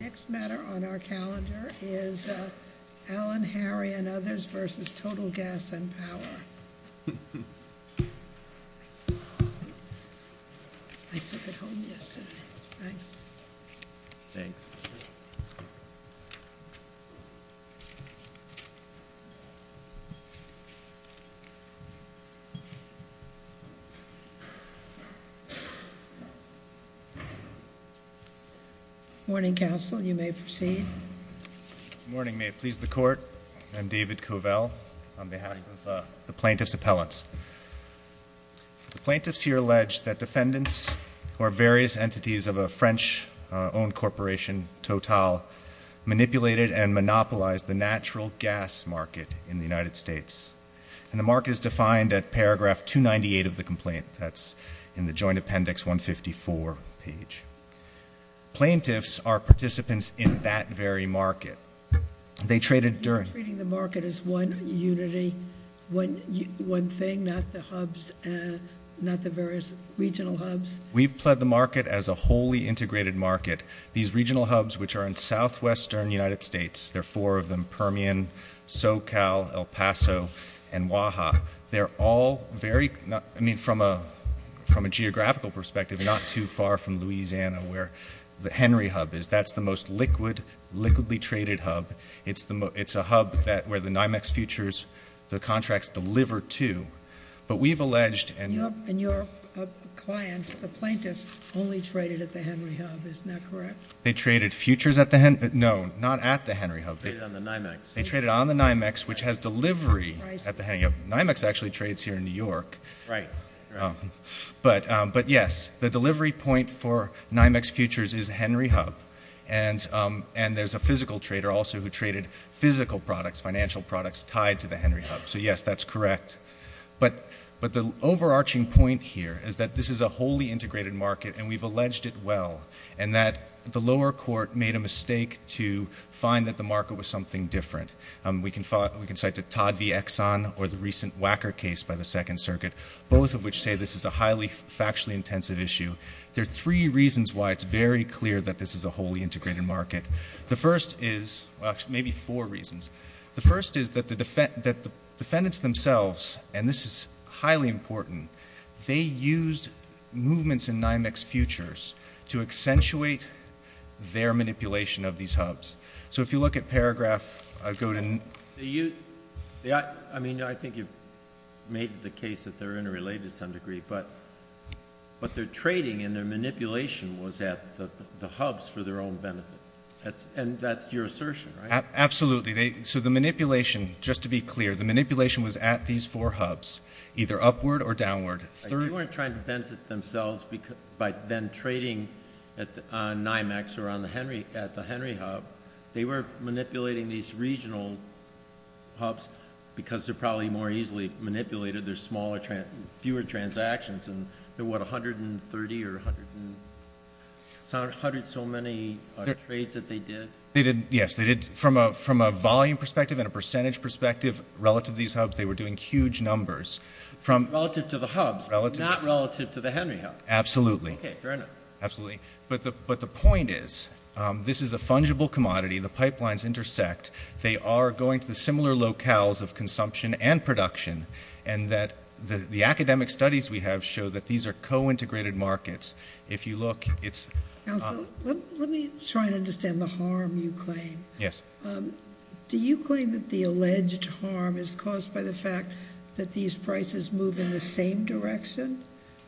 Next matter on our calendar is Allen, Harry & Others v. Total Gas & Power. I took it home yesterday. Thanks. Thanks. Morning, counsel. You may proceed. Good morning. May it please the court, I'm David Covell on behalf of the plaintiff's appellants. The plaintiffs here allege that defendants or various entities of a French-owned corporation, Total, manipulated and monopolized the natural gas market in the United States. And the mark is defined at paragraph 298 of the complaint. That's in the Joint Appendix 154 page. Plaintiffs are participants in that very market. You're treating the market as one unity, one thing, not the hubs, not the various regional hubs? We've pled the market as a wholly integrated market. These regional hubs, which are in southwestern United States, there are four of them, Permian, SoCal, El Paso, and Oaxaca. They're all very, I mean, from a geographical perspective, not too far from Louisiana, where the Henry Hub is. That's the most liquid, liquidly traded hub. It's a hub where the NYMEX futures, the contracts, deliver to. But we've alleged, and your clients, the plaintiffs, only traded at the Henry Hub. Isn't that correct? They traded futures at the Henry, no, not at the Henry Hub. They traded on the NYMEX. They traded on the NYMEX, which has delivery at the Henry. NYMEX actually trades here in New York. Right. But, yes, the delivery point for NYMEX futures is Henry Hub, and there's a physical trader also who traded physical products, financial products tied to the Henry Hub. So, yes, that's correct. But the overarching point here is that this is a wholly integrated market, and we've alleged it well, and that the lower court made a mistake to find that the market was something different. We can cite the Todd v. Exxon or the recent Wacker case by the Second Circuit. Both of which say this is a highly factually intensive issue. There are three reasons why it's very clear that this is a wholly integrated market. The first is, well, actually maybe four reasons. The first is that the defendants themselves, and this is highly important, they used movements in NYMEX futures to accentuate their manipulation of these hubs. So if you look at paragraph, go to. I mean, I think you've made the case that they're interrelated to some degree, but their trading and their manipulation was at the hubs for their own benefit. And that's your assertion, right? Absolutely. So the manipulation, just to be clear, the manipulation was at these four hubs, either upward or downward. So they weren't trying to benefit themselves by then trading on NYMEX or at the Henry Hub. They were manipulating these regional hubs because they're probably more easily manipulated. There's fewer transactions. And there were, what, 130 or 100 and so many trades that they did? Yes, they did. From a volume perspective and a percentage perspective, relative to these hubs, they were doing huge numbers. Relative to the hubs, not relative to the Henry Hub. Absolutely. Okay, fair enough. Absolutely. But the point is, this is a fungible commodity. The pipelines intersect. They are going to the similar locales of consumption and production, and that the academic studies we have show that these are co-integrated markets. If you look, it's- Counsel, let me try and understand the harm you claim. Yes. Do you claim that the alleged harm is caused by the fact that these prices move in the same direction?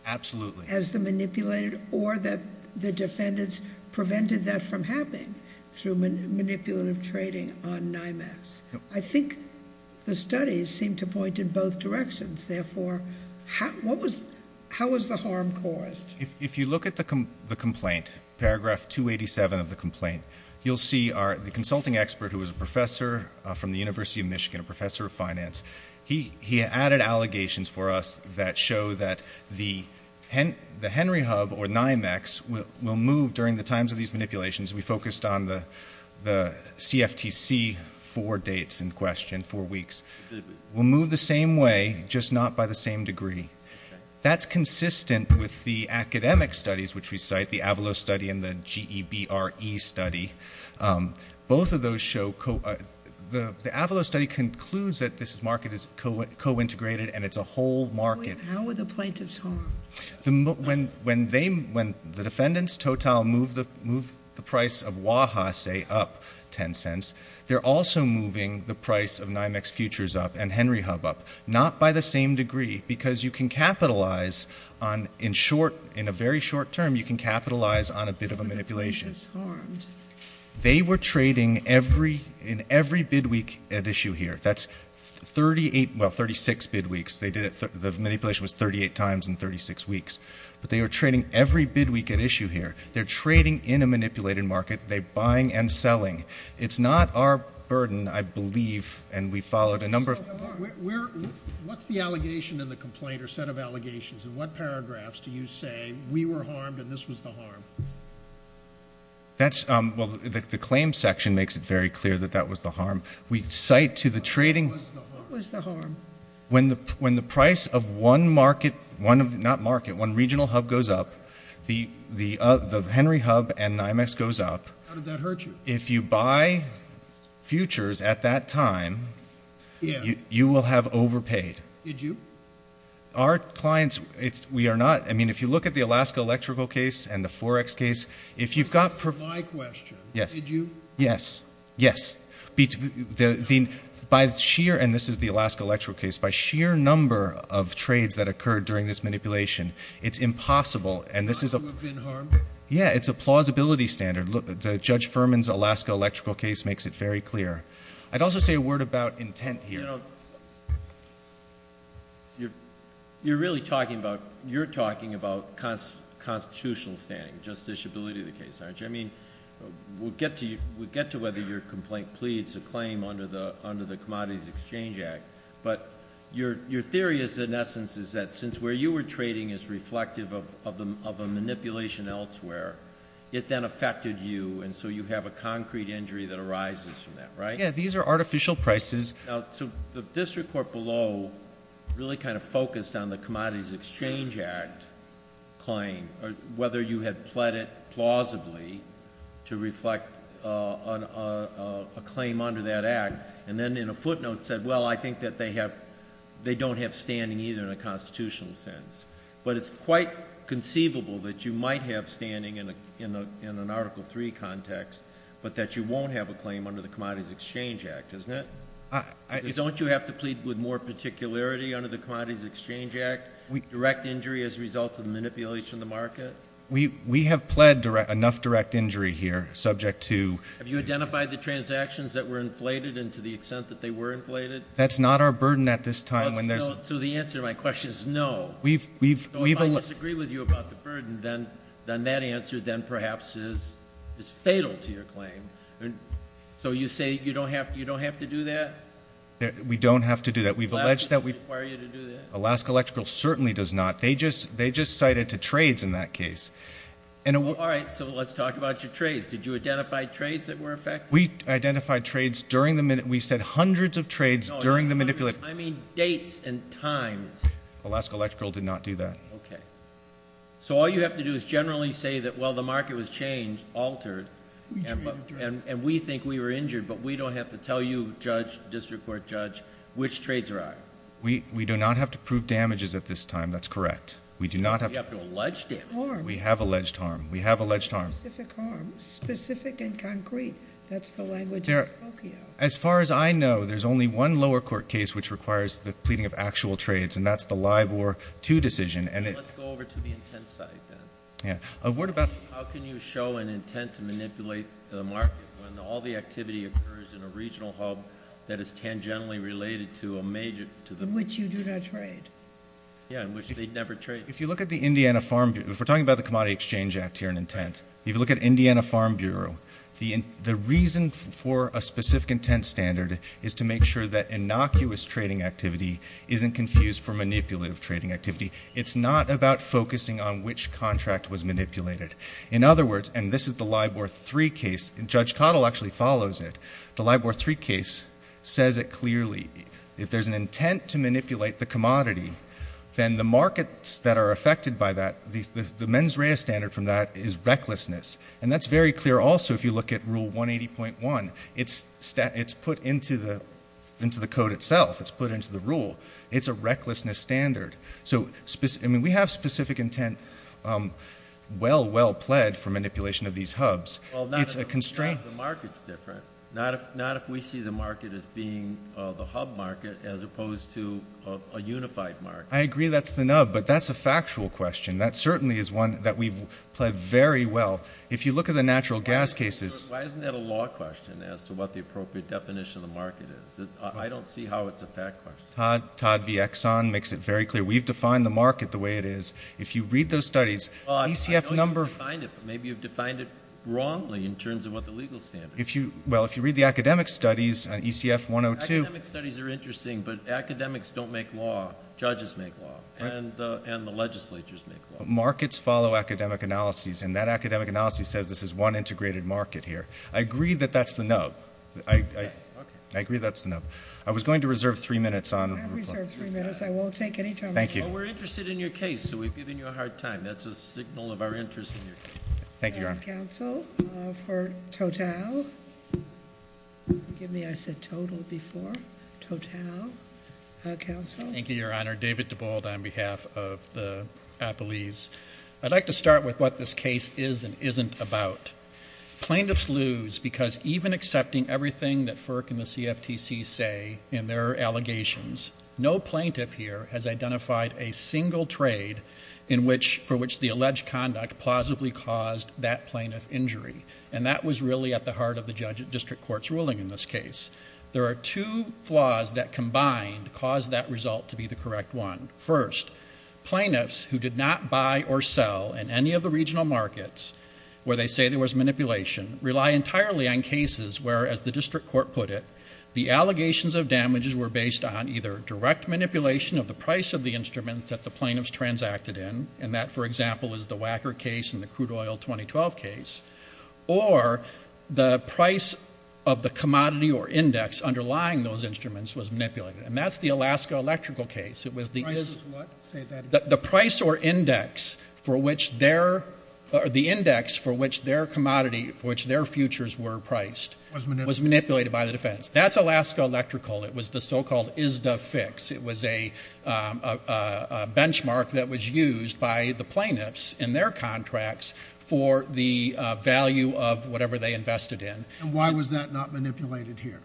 Absolutely. As the manipulated or that the defendants prevented that from happening through manipulative trading on NYMEX? I think the studies seem to point in both directions. Therefore, how was the harm caused? If you look at the complaint, paragraph 287 of the complaint, you'll see the consulting expert who was a professor from the University of Michigan, a professor of finance, he added allegations for us that show that the Henry Hub or NYMEX will move during the times of these manipulations. We focused on the CFTC four dates in question, four weeks. Will move the same way, just not by the same degree. That's consistent with the academic studies, which we cite, the Avalos study and the GEBRE study. Both of those show- the Avalos study concludes that this market is co-integrated and it's a whole market. How were the plaintiffs harmed? When the defendants total move the price of Waha, say, up 10 cents, they're also moving the price of NYMEX Futures up and Henry Hub up, not by the same degree because you can capitalize on, in a very short term, you can capitalize on a bit of a manipulation. How were the plaintiffs harmed? They were trading in every bid week at issue here. That's 38- well, 36 bid weeks. The manipulation was 38 times in 36 weeks. But they were trading every bid week at issue here. They're trading in a manipulated market. They're buying and selling. It's not our burden, I believe, and we followed a number of- What's the allegation in the complaint or set of allegations? In what paragraphs do you say, we were harmed and this was the harm? That's- well, the claim section makes it very clear that that was the harm. We cite to the trading- What was the harm? When the price of one market- not market, one regional hub goes up, the Henry Hub and NYMEX goes up. How did that hurt you? If you buy Futures at that time, you will have overpaid. Did you? Our clients, we are not- I mean, if you look at the Alaska Electrical case and the Forex case, if you've got- That's my question. Yes. Did you? Yes. Yes. By sheer- and this is the Alaska Electrical case. By sheer number of trades that occurred during this manipulation, it's impossible and this is a- Would you have been harmed? Yeah, it's a plausibility standard. Judge Furman's Alaska Electrical case makes it very clear. I'd also say a word about intent here. You're really talking about- you're talking about constitutional standing, justiciability of the case, aren't you? I mean, we'll get to whether your complaint pleads a claim under the Commodities Exchange Act, but your theory is, in essence, is that since where you were trading is reflective of a manipulation elsewhere, it then affected you and so you have a concrete injury that arises from that, right? Yeah, these are artificial prices. The district court below really kind of focused on the Commodities Exchange Act claim, whether you had pled it plausibly to reflect a claim under that act and then in a footnote said, well, I think that they don't have standing either in a constitutional sense, but it's quite conceivable that you might have standing in an Article III context, but that you won't have a claim under the Commodities Exchange Act, isn't it? Don't you have to plead with more particularity under the Commodities Exchange Act, direct injury as a result of manipulation of the market? We have pled enough direct injury here subject to- Have you identified the transactions that were inflated and to the extent that they were inflated? That's not our burden at this time when there's- So the answer to my question is no. We've- So if I disagree with you about the burden, then that answer then perhaps is fatal to your claim. So you say you don't have to do that? We don't have to do that. We've alleged that we- Does Alaska Electrical require you to do that? Alaska Electrical certainly does not. They just cited to trades in that case. All right. So let's talk about your trades. Did you identify trades that were affected? We identified trades during the-we said hundreds of trades during the manipulation. I mean dates and times. Alaska Electrical did not do that. Okay. So all you have to do is generally say that, well, the market was changed, altered, and we think we were injured, but we don't have to tell you, judge, district court judge, which trades are out. We do not have to prove damages at this time. That's correct. We do not have to- You have to allege damage. We have alleged harm. We have alleged harm. Specific harm. Specific and concrete. That's the language of the Tokyo. As far as I know, there's only one lower court case which requires the pleading of actual trades, and that's the LIBOR 2 decision. Let's go over to the intent side then. Yeah. A word about- How can you show an intent to manipulate the market when all the activity occurs in a regional hub that is tangentially related to a major- In which you do not trade. Yeah, in which they'd never trade. If you look at the Indiana Farm Bureau-if we're talking about the Commodity Exchange Act here in intent, if you look at Indiana Farm Bureau, the reason for a specific intent standard is to make sure that innocuous trading activity isn't confused for manipulative trading activity. It's not about focusing on which contract was manipulated. In other words-and this is the LIBOR 3 case. Judge Cottle actually follows it. The LIBOR 3 case says it clearly. If there's an intent to manipulate the commodity, then the markets that are affected by that-the mens rea standard from that is recklessness. And that's very clear also if you look at Rule 180.1. It's put into the code itself. It's put into the rule. It's a recklessness standard. So we have specific intent well, well pled for manipulation of these hubs. It's a constraint. Well, not if the market's different. Not if we see the market as being the hub market as opposed to a unified market. I agree that's the nub, but that's a factual question. That certainly is one that we've pled very well. If you look at the natural gas cases- Why isn't that a law question as to what the appropriate definition of the market is? I don't see how it's a fact question. Todd V. Exxon makes it very clear. We've defined the market the way it is. If you read those studies- Well, I know you've defined it, but maybe you've defined it wrongly in terms of what the legal standard is. Well, if you read the academic studies, ECF 102- Academic studies are interesting, but academics don't make law. Judges make law, and the legislatures make law. Markets follow academic analyses, and that academic analysis says this is one integrated market here. I agree that that's the nub. I agree that's the nub. I was going to reserve three minutes on- I'll reserve three minutes. I won't take any time. Thank you. Well, we're interested in your case, so we've given you a hard time. That's a signal of our interest in your case. Thank you, Your Honor. I have counsel for Total. Forgive me. I said Total before. Total. Counsel. Thank you, Your Honor. David DeBolt on behalf of the Appellees. I'd like to start with what this case is and isn't about. Plaintiffs lose because even accepting everything that FERC and the CFTC say in their allegations, no plaintiff here has identified a single trade for which the alleged conduct plausibly caused that plaintiff injury, and that was really at the heart of the district court's ruling in this case. There are two flaws that combined cause that result to be the correct one. First, plaintiffs who did not buy or sell in any of the regional markets where they say there was manipulation rely entirely on cases where, as the district court put it, the allegations of damages were based on either direct manipulation of the price of the instruments that the plaintiffs transacted in, and that, for example, is the Wacker case and the crude oil 2012 case, or the price of the commodity or index underlying those instruments was manipulated, and that's the Alaska electrical case. The price or index for which their commodity, for which their futures were priced, was manipulated by the defendants. That's Alaska electrical. It was the so-called ISDA fix. It was a benchmark that was used by the plaintiffs in their contracts for the value of whatever they invested in. And why was that not manipulated here?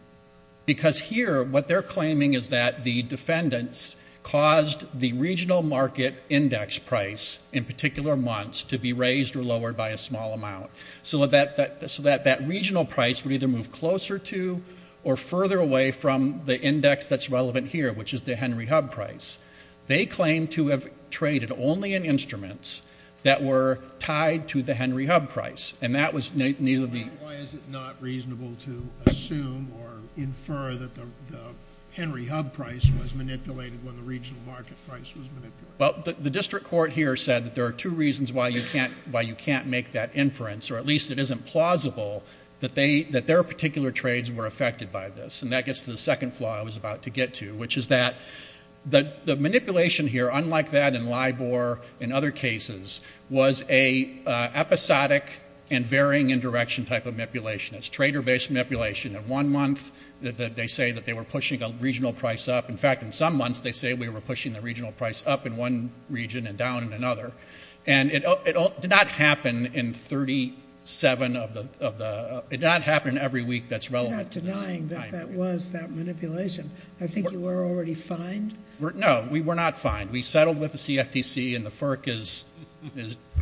Because here, what they're claiming is that the defendants caused the regional market index price in particular months to be raised or lowered by a small amount, so that that regional price would either move closer to or further away from the index that's relevant here, which is the Henry Hub price. They claim to have traded only in instruments that were tied to the Henry Hub price, and that was neither the— or infer that the Henry Hub price was manipulated when the regional market price was manipulated. Well, the district court here said that there are two reasons why you can't make that inference, or at least it isn't plausible that their particular trades were affected by this, and that gets to the second flaw I was about to get to, which is that the manipulation here, unlike that in LIBOR and other cases, was an episodic and varying in direction type of manipulation. It's trader-based manipulation. In one month, they say that they were pushing a regional price up. In fact, in some months, they say we were pushing the regional price up in one region and down in another. And it did not happen in 37 of the—it did not happen every week that's relevant. You're not denying that that was that manipulation. I think you were already fined. No, we were not fined. We settled with the CFTC, and the FERC is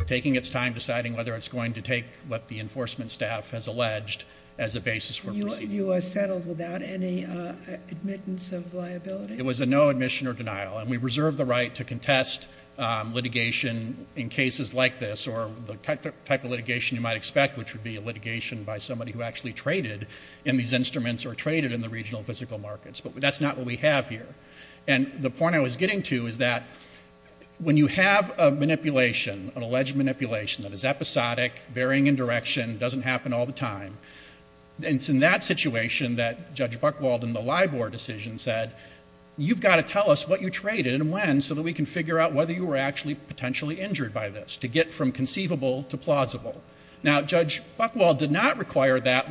taking its time deciding whether it's going to take what the enforcement staff has alleged as a basis for proceeding. You settled without any admittance of liability? It was a no admission or denial, and we reserve the right to contest litigation in cases like this or the type of litigation you might expect, which would be a litigation by somebody who actually traded in these instruments or traded in the regional physical markets. But that's not what we have here. And the point I was getting to is that when you have a manipulation, an alleged manipulation that is episodic, varying in direction, doesn't happen all the time, it's in that situation that Judge Buchwald in the Libor decision said, you've got to tell us what you traded and when so that we can figure out whether you were actually potentially injured by this to get from conceivable to plausible. Now, Judge Buchwald did not require that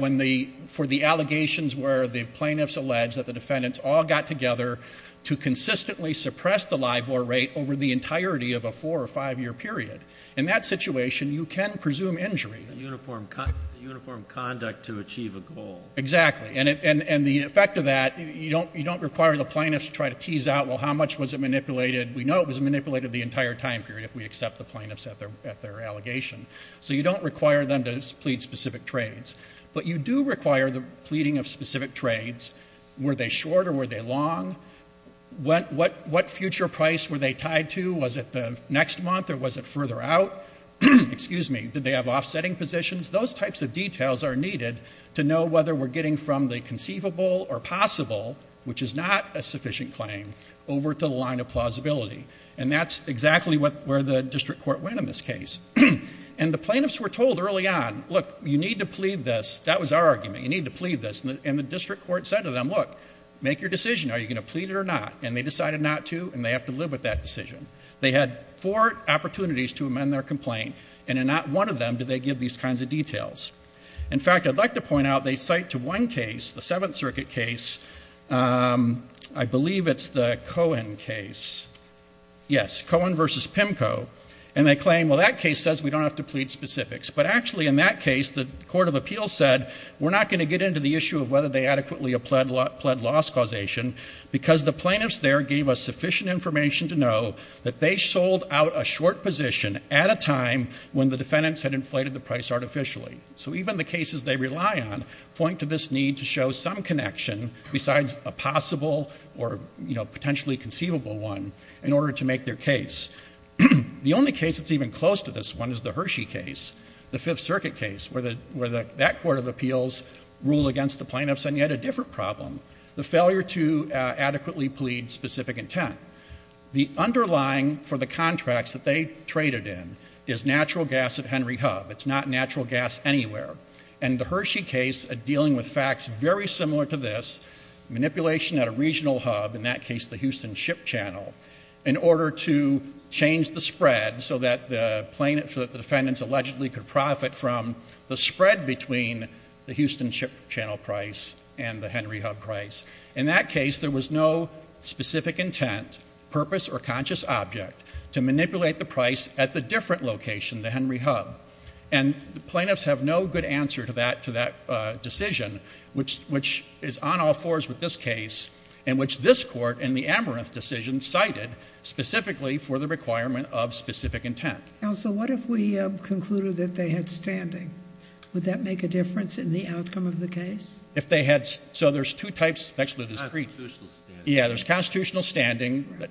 for the allegations where the plaintiffs alleged that the defendants all got together to consistently suppress the Libor rate over the entirety of a four- or five-year period. In that situation, you can presume injury. Uniform conduct to achieve a goal. Exactly. And the effect of that, you don't require the plaintiffs to try to tease out, well, how much was it manipulated? We know it was manipulated the entire time period if we accept the plaintiffs at their allegation. So you don't require them to plead specific trades. But you do require the pleading of specific trades. Were they short or were they long? What future price were they tied to? Was it the next month or was it further out? Excuse me. Did they have offsetting positions? Those types of details are needed to know whether we're getting from the conceivable or possible, which is not a sufficient claim, over to the line of plausibility. And that's exactly where the district court went in this case. And the plaintiffs were told early on, look, you need to plead this. That was our argument. You need to plead this. And the district court said to them, look, make your decision. Are you going to plead it or not? And they decided not to, and they have to live with that decision. They had four opportunities to amend their complaint, and in not one of them did they give these kinds of details. In fact, I'd like to point out they cite to one case, the Seventh Circuit case, I believe it's the Cohen case. Yes, Cohen v. Pimko. And they claim, well, that case says we don't have to plead specifics. But actually, in that case, the court of appeals said we're not going to get into the issue of whether they adequately pled loss causation because the plaintiffs there gave us sufficient information to know that they sold out a short position at a time when the defendants had inflated the price artificially. So even the cases they rely on point to this need to show some connection besides a possible or potentially conceivable one in order to make their case. The only case that's even close to this one is the Hershey case, the Fifth Circuit case, where that court of appeals ruled against the plaintiffs on yet a different problem, the failure to adequately plead specific intent. The underlying for the contracts that they traded in is natural gas at Henry Hub. It's not natural gas anywhere. And the Hershey case, dealing with facts very similar to this, manipulation at a regional hub, in that case the Houston Ship Channel, in order to change the spread so that the defendants allegedly could profit from the spread between the Houston Ship Channel price and the Henry Hub price. In that case, there was no specific intent, purpose, or conscious object to manipulate the price at the different location, the Henry Hub. And the plaintiffs have no good answer to that decision, which is on all fours with this case, in which this court in the Amaranth decision cited specifically for the requirement of specific intent. Counsel, what if we concluded that they had standing? Would that make a difference in the outcome of the case? If they had ‑‑ so there's two types. Actually, there's three. Constitutional standing. Yeah, there's constitutional standing.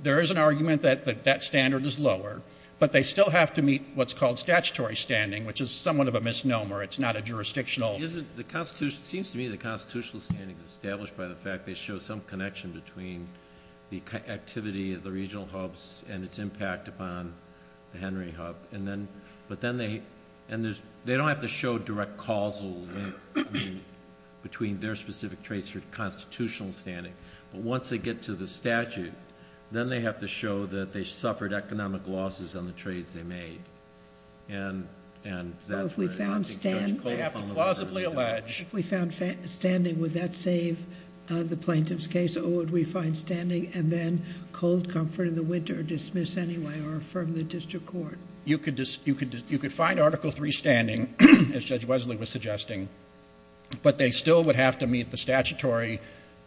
There is an argument that that standard is lower, but they still have to meet what's called statutory standing, which is somewhat of a misnomer. It's not a jurisdictional. It seems to me that constitutional standing is established by the fact they show some connection between the activity of the regional hubs and its impact upon the Henry Hub. But then they don't have to show direct causal link between their specific traits or constitutional standing. But once they get to the statute, then they have to show that they suffered economic losses on the trades they made. If we found standing, would that save the plaintiff's case? Or would we find standing and then cold comfort in the winter or dismiss anyway or affirm the district court? You could find Article III standing, as Judge Wesley was suggesting, but they still would have to meet the statutory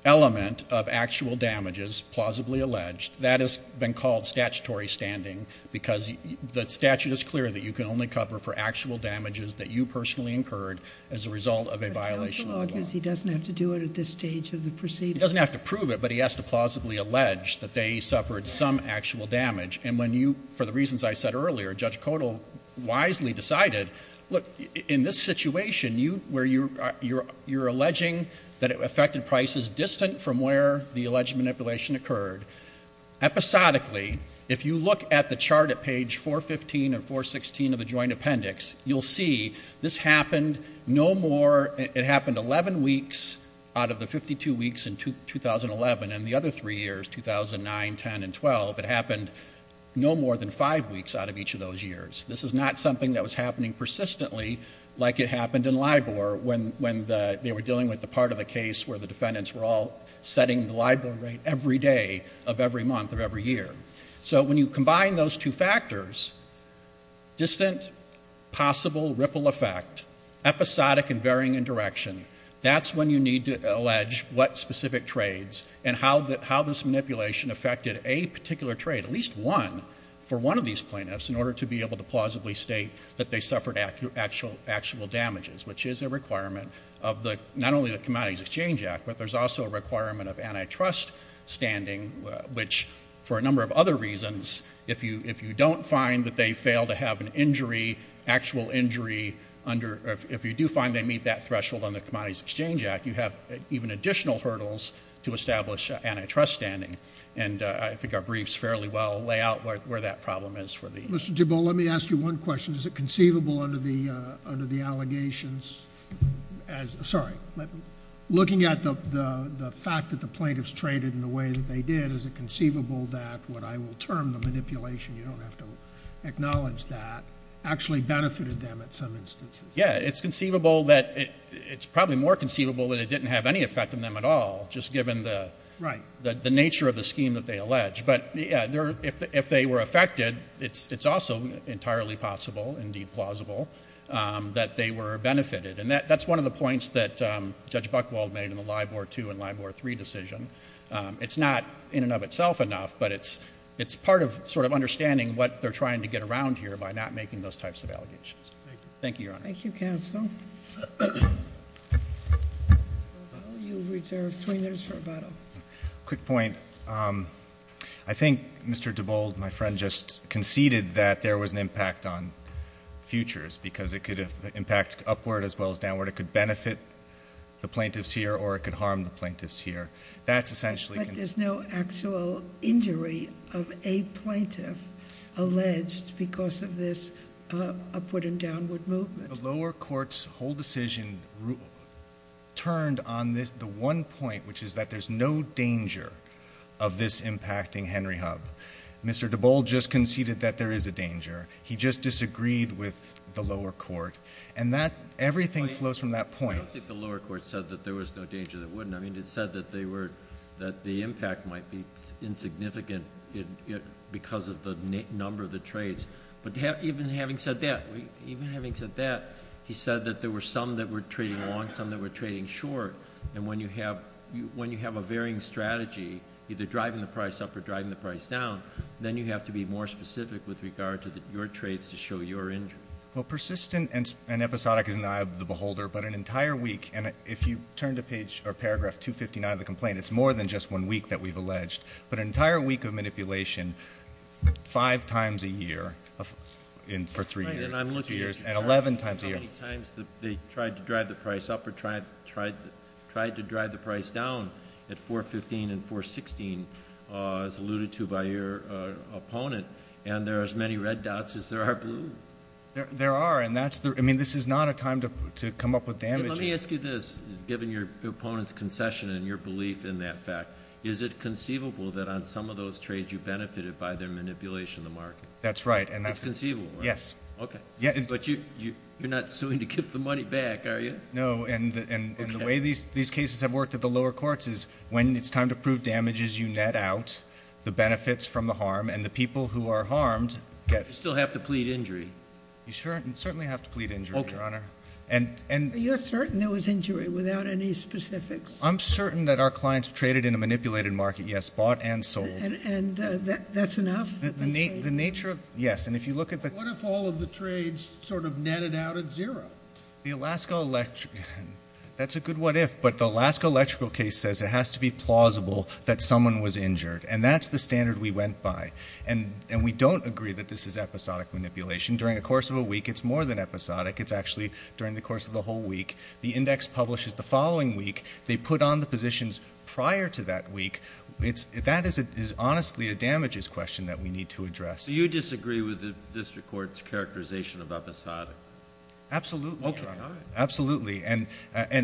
element of actual damages, plausibly alleged. That has been called statutory standing because the statute is clear that you can only cover for actual damages that you personally incurred as a result of a violation of the law. But the law gives he doesn't have to do it at this stage of the proceeding. He doesn't have to prove it, but he has to plausibly allege that they suffered some actual damage. And when you, for the reasons I said earlier, Judge Codall wisely decided, look, in this situation, you're alleging that it affected prices distant from where the alleged manipulation occurred. Episodically, if you look at the chart at page 415 or 416 of the joint appendix, you'll see this happened no more, it happened 11 weeks out of the 52 weeks in 2011. And the other three years, 2009, 10, and 12, it happened no more than five weeks out of each of those years. This is not something that was happening persistently like it happened in LIBOR when they were dealing with the part of the case where the defendants were all setting the LIBOR rate every day of every month of every year. So when you combine those two factors, distant, possible ripple effect, episodic and varying in direction, that's when you need to allege what specific trades and how this manipulation affected a particular trade, at least one for one of these plaintiffs in order to be able to plausibly state that they suffered actual damages, which is a requirement of not only the Commodities Exchange Act, but there's also a requirement of antitrust standing, which for a number of other reasons, if you don't find that they fail to have an injury, actual injury, if you do find they meet that threshold under the Commodities Exchange Act, you have even additional hurdles to establish antitrust standing. And I think our briefs fairly well lay out where that problem is for the— Mr. DeBolt, let me ask you one question. Is it conceivable under the allegations as—sorry, looking at the fact that the plaintiffs traded in the way that they did, is it conceivable that what I will term the manipulation—you don't have to acknowledge that—actually benefited them at some instances? Yeah, it's conceivable that—it's probably more conceivable that it didn't have any effect on them at all, just given the nature of the scheme that they allege. But, yeah, if they were affected, it's also entirely possible, indeed plausible, that they were benefited. And that's one of the points that Judge Buchwald made in the Live War II and Live War III decision. It's not in and of itself enough, but it's part of sort of understanding what they're trying to get around here by not making those types of allegations. Thank you, Your Honor. Thank you, counsel. Mr. DeBolt, you reserve three minutes for rebuttal. Quick point. I think Mr. DeBolt, my friend, just conceded that there was an impact on futures because it could impact upward as well as downward. It could benefit the plaintiffs here or it could harm the plaintiffs here. That's essentially— But there's no actual injury of a plaintiff alleged because of this upward and downward movement. The lower court's whole decision turned on the one point, which is that there's no danger of this impacting Henry Hub. Mr. DeBolt just conceded that there is a danger. He just disagreed with the lower court. And everything flows from that point. I don't think the lower court said that there was no danger that it wouldn't. I mean, it said that the impact might be insignificant because of the number of the trades. But even having said that, he said that there were some that were trading long, some that were trading short. And when you have a varying strategy, either driving the price up or driving the price down, then you have to be more specific with regard to your trades to show your injury. Well, persistent and episodic is in the eye of the beholder. But an entire week—and if you turn to paragraph 259 of the complaint, it's more than just one week that we've alleged. But an entire week of manipulation five times a year for three years and 11 times a year. Right, and I'm looking at how many times they tried to drive the price up or tried to drive the price down at 415 and 416, as alluded to by your opponent. And there are as many red dots as there are blue. There are. I mean, this is not a time to come up with damages. Let me ask you this, given your opponent's concession and your belief in that fact. Is it conceivable that on some of those trades you benefited by their manipulation of the market? That's right. It's conceivable, right? Yes. Okay. But you're not suing to get the money back, are you? No, and the way these cases have worked at the lower courts is when it's time to prove damages, you net out the benefits from the harm, and the people who are harmed get— But you still have to plead injury. You certainly have to plead injury, Your Honor. Okay. Are you certain there was injury without any specifics? I'm certain that our clients traded in a manipulated market, yes, bought and sold. And that's enough? The nature of—yes. And if you look at the— What if all of the trades sort of netted out at zero? The Alaska—that's a good what if, but the Alaska electrical case says it has to be plausible that someone was injured, and that's the standard we went by. And we don't agree that this is episodic manipulation. During the course of a week, it's more than episodic. It's actually during the course of the whole week. The index publishes the following week. They put on the positions prior to that week. That is honestly a damages question that we need to address. Do you disagree with the district court's characterization of episodic? Absolutely, Your Honor. Okay. Absolutely.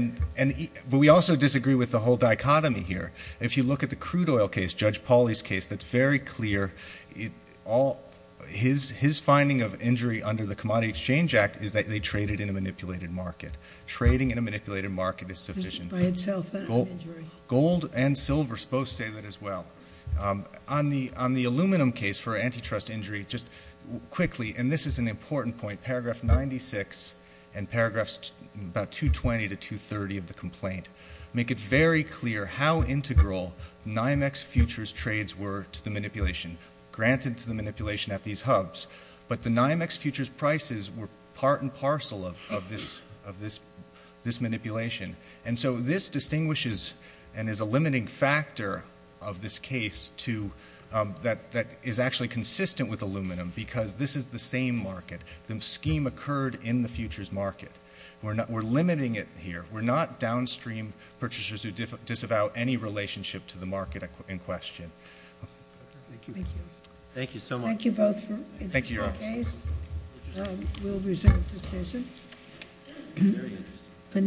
But we also disagree with the whole dichotomy here. If you look at the crude oil case, Judge Pauly's case, that's very clear. His finding of injury under the Commodity Exchange Act is that they traded in a manipulated market. Trading in a manipulated market is sufficient. By itself and injury. Gold and silver both say that as well. On the aluminum case for antitrust injury, just quickly, and this is an important point, paragraph 96 and paragraphs about 220 to 230 of the complaint make it very clear how integral NYMEX futures trades were to the manipulation, granted to the manipulation at these hubs. But the NYMEX futures prices were part and parcel of this manipulation. And so this distinguishes and is a limiting factor of this case that is actually consistent with aluminum because this is the same market. The scheme occurred in the futures market. We're limiting it here. We're not downstream purchasers who disavow any relationship to the market in question. Thank you. Thank you. Thank you so much. Thank you both. Thank you, Your Honor. We'll reserve the session.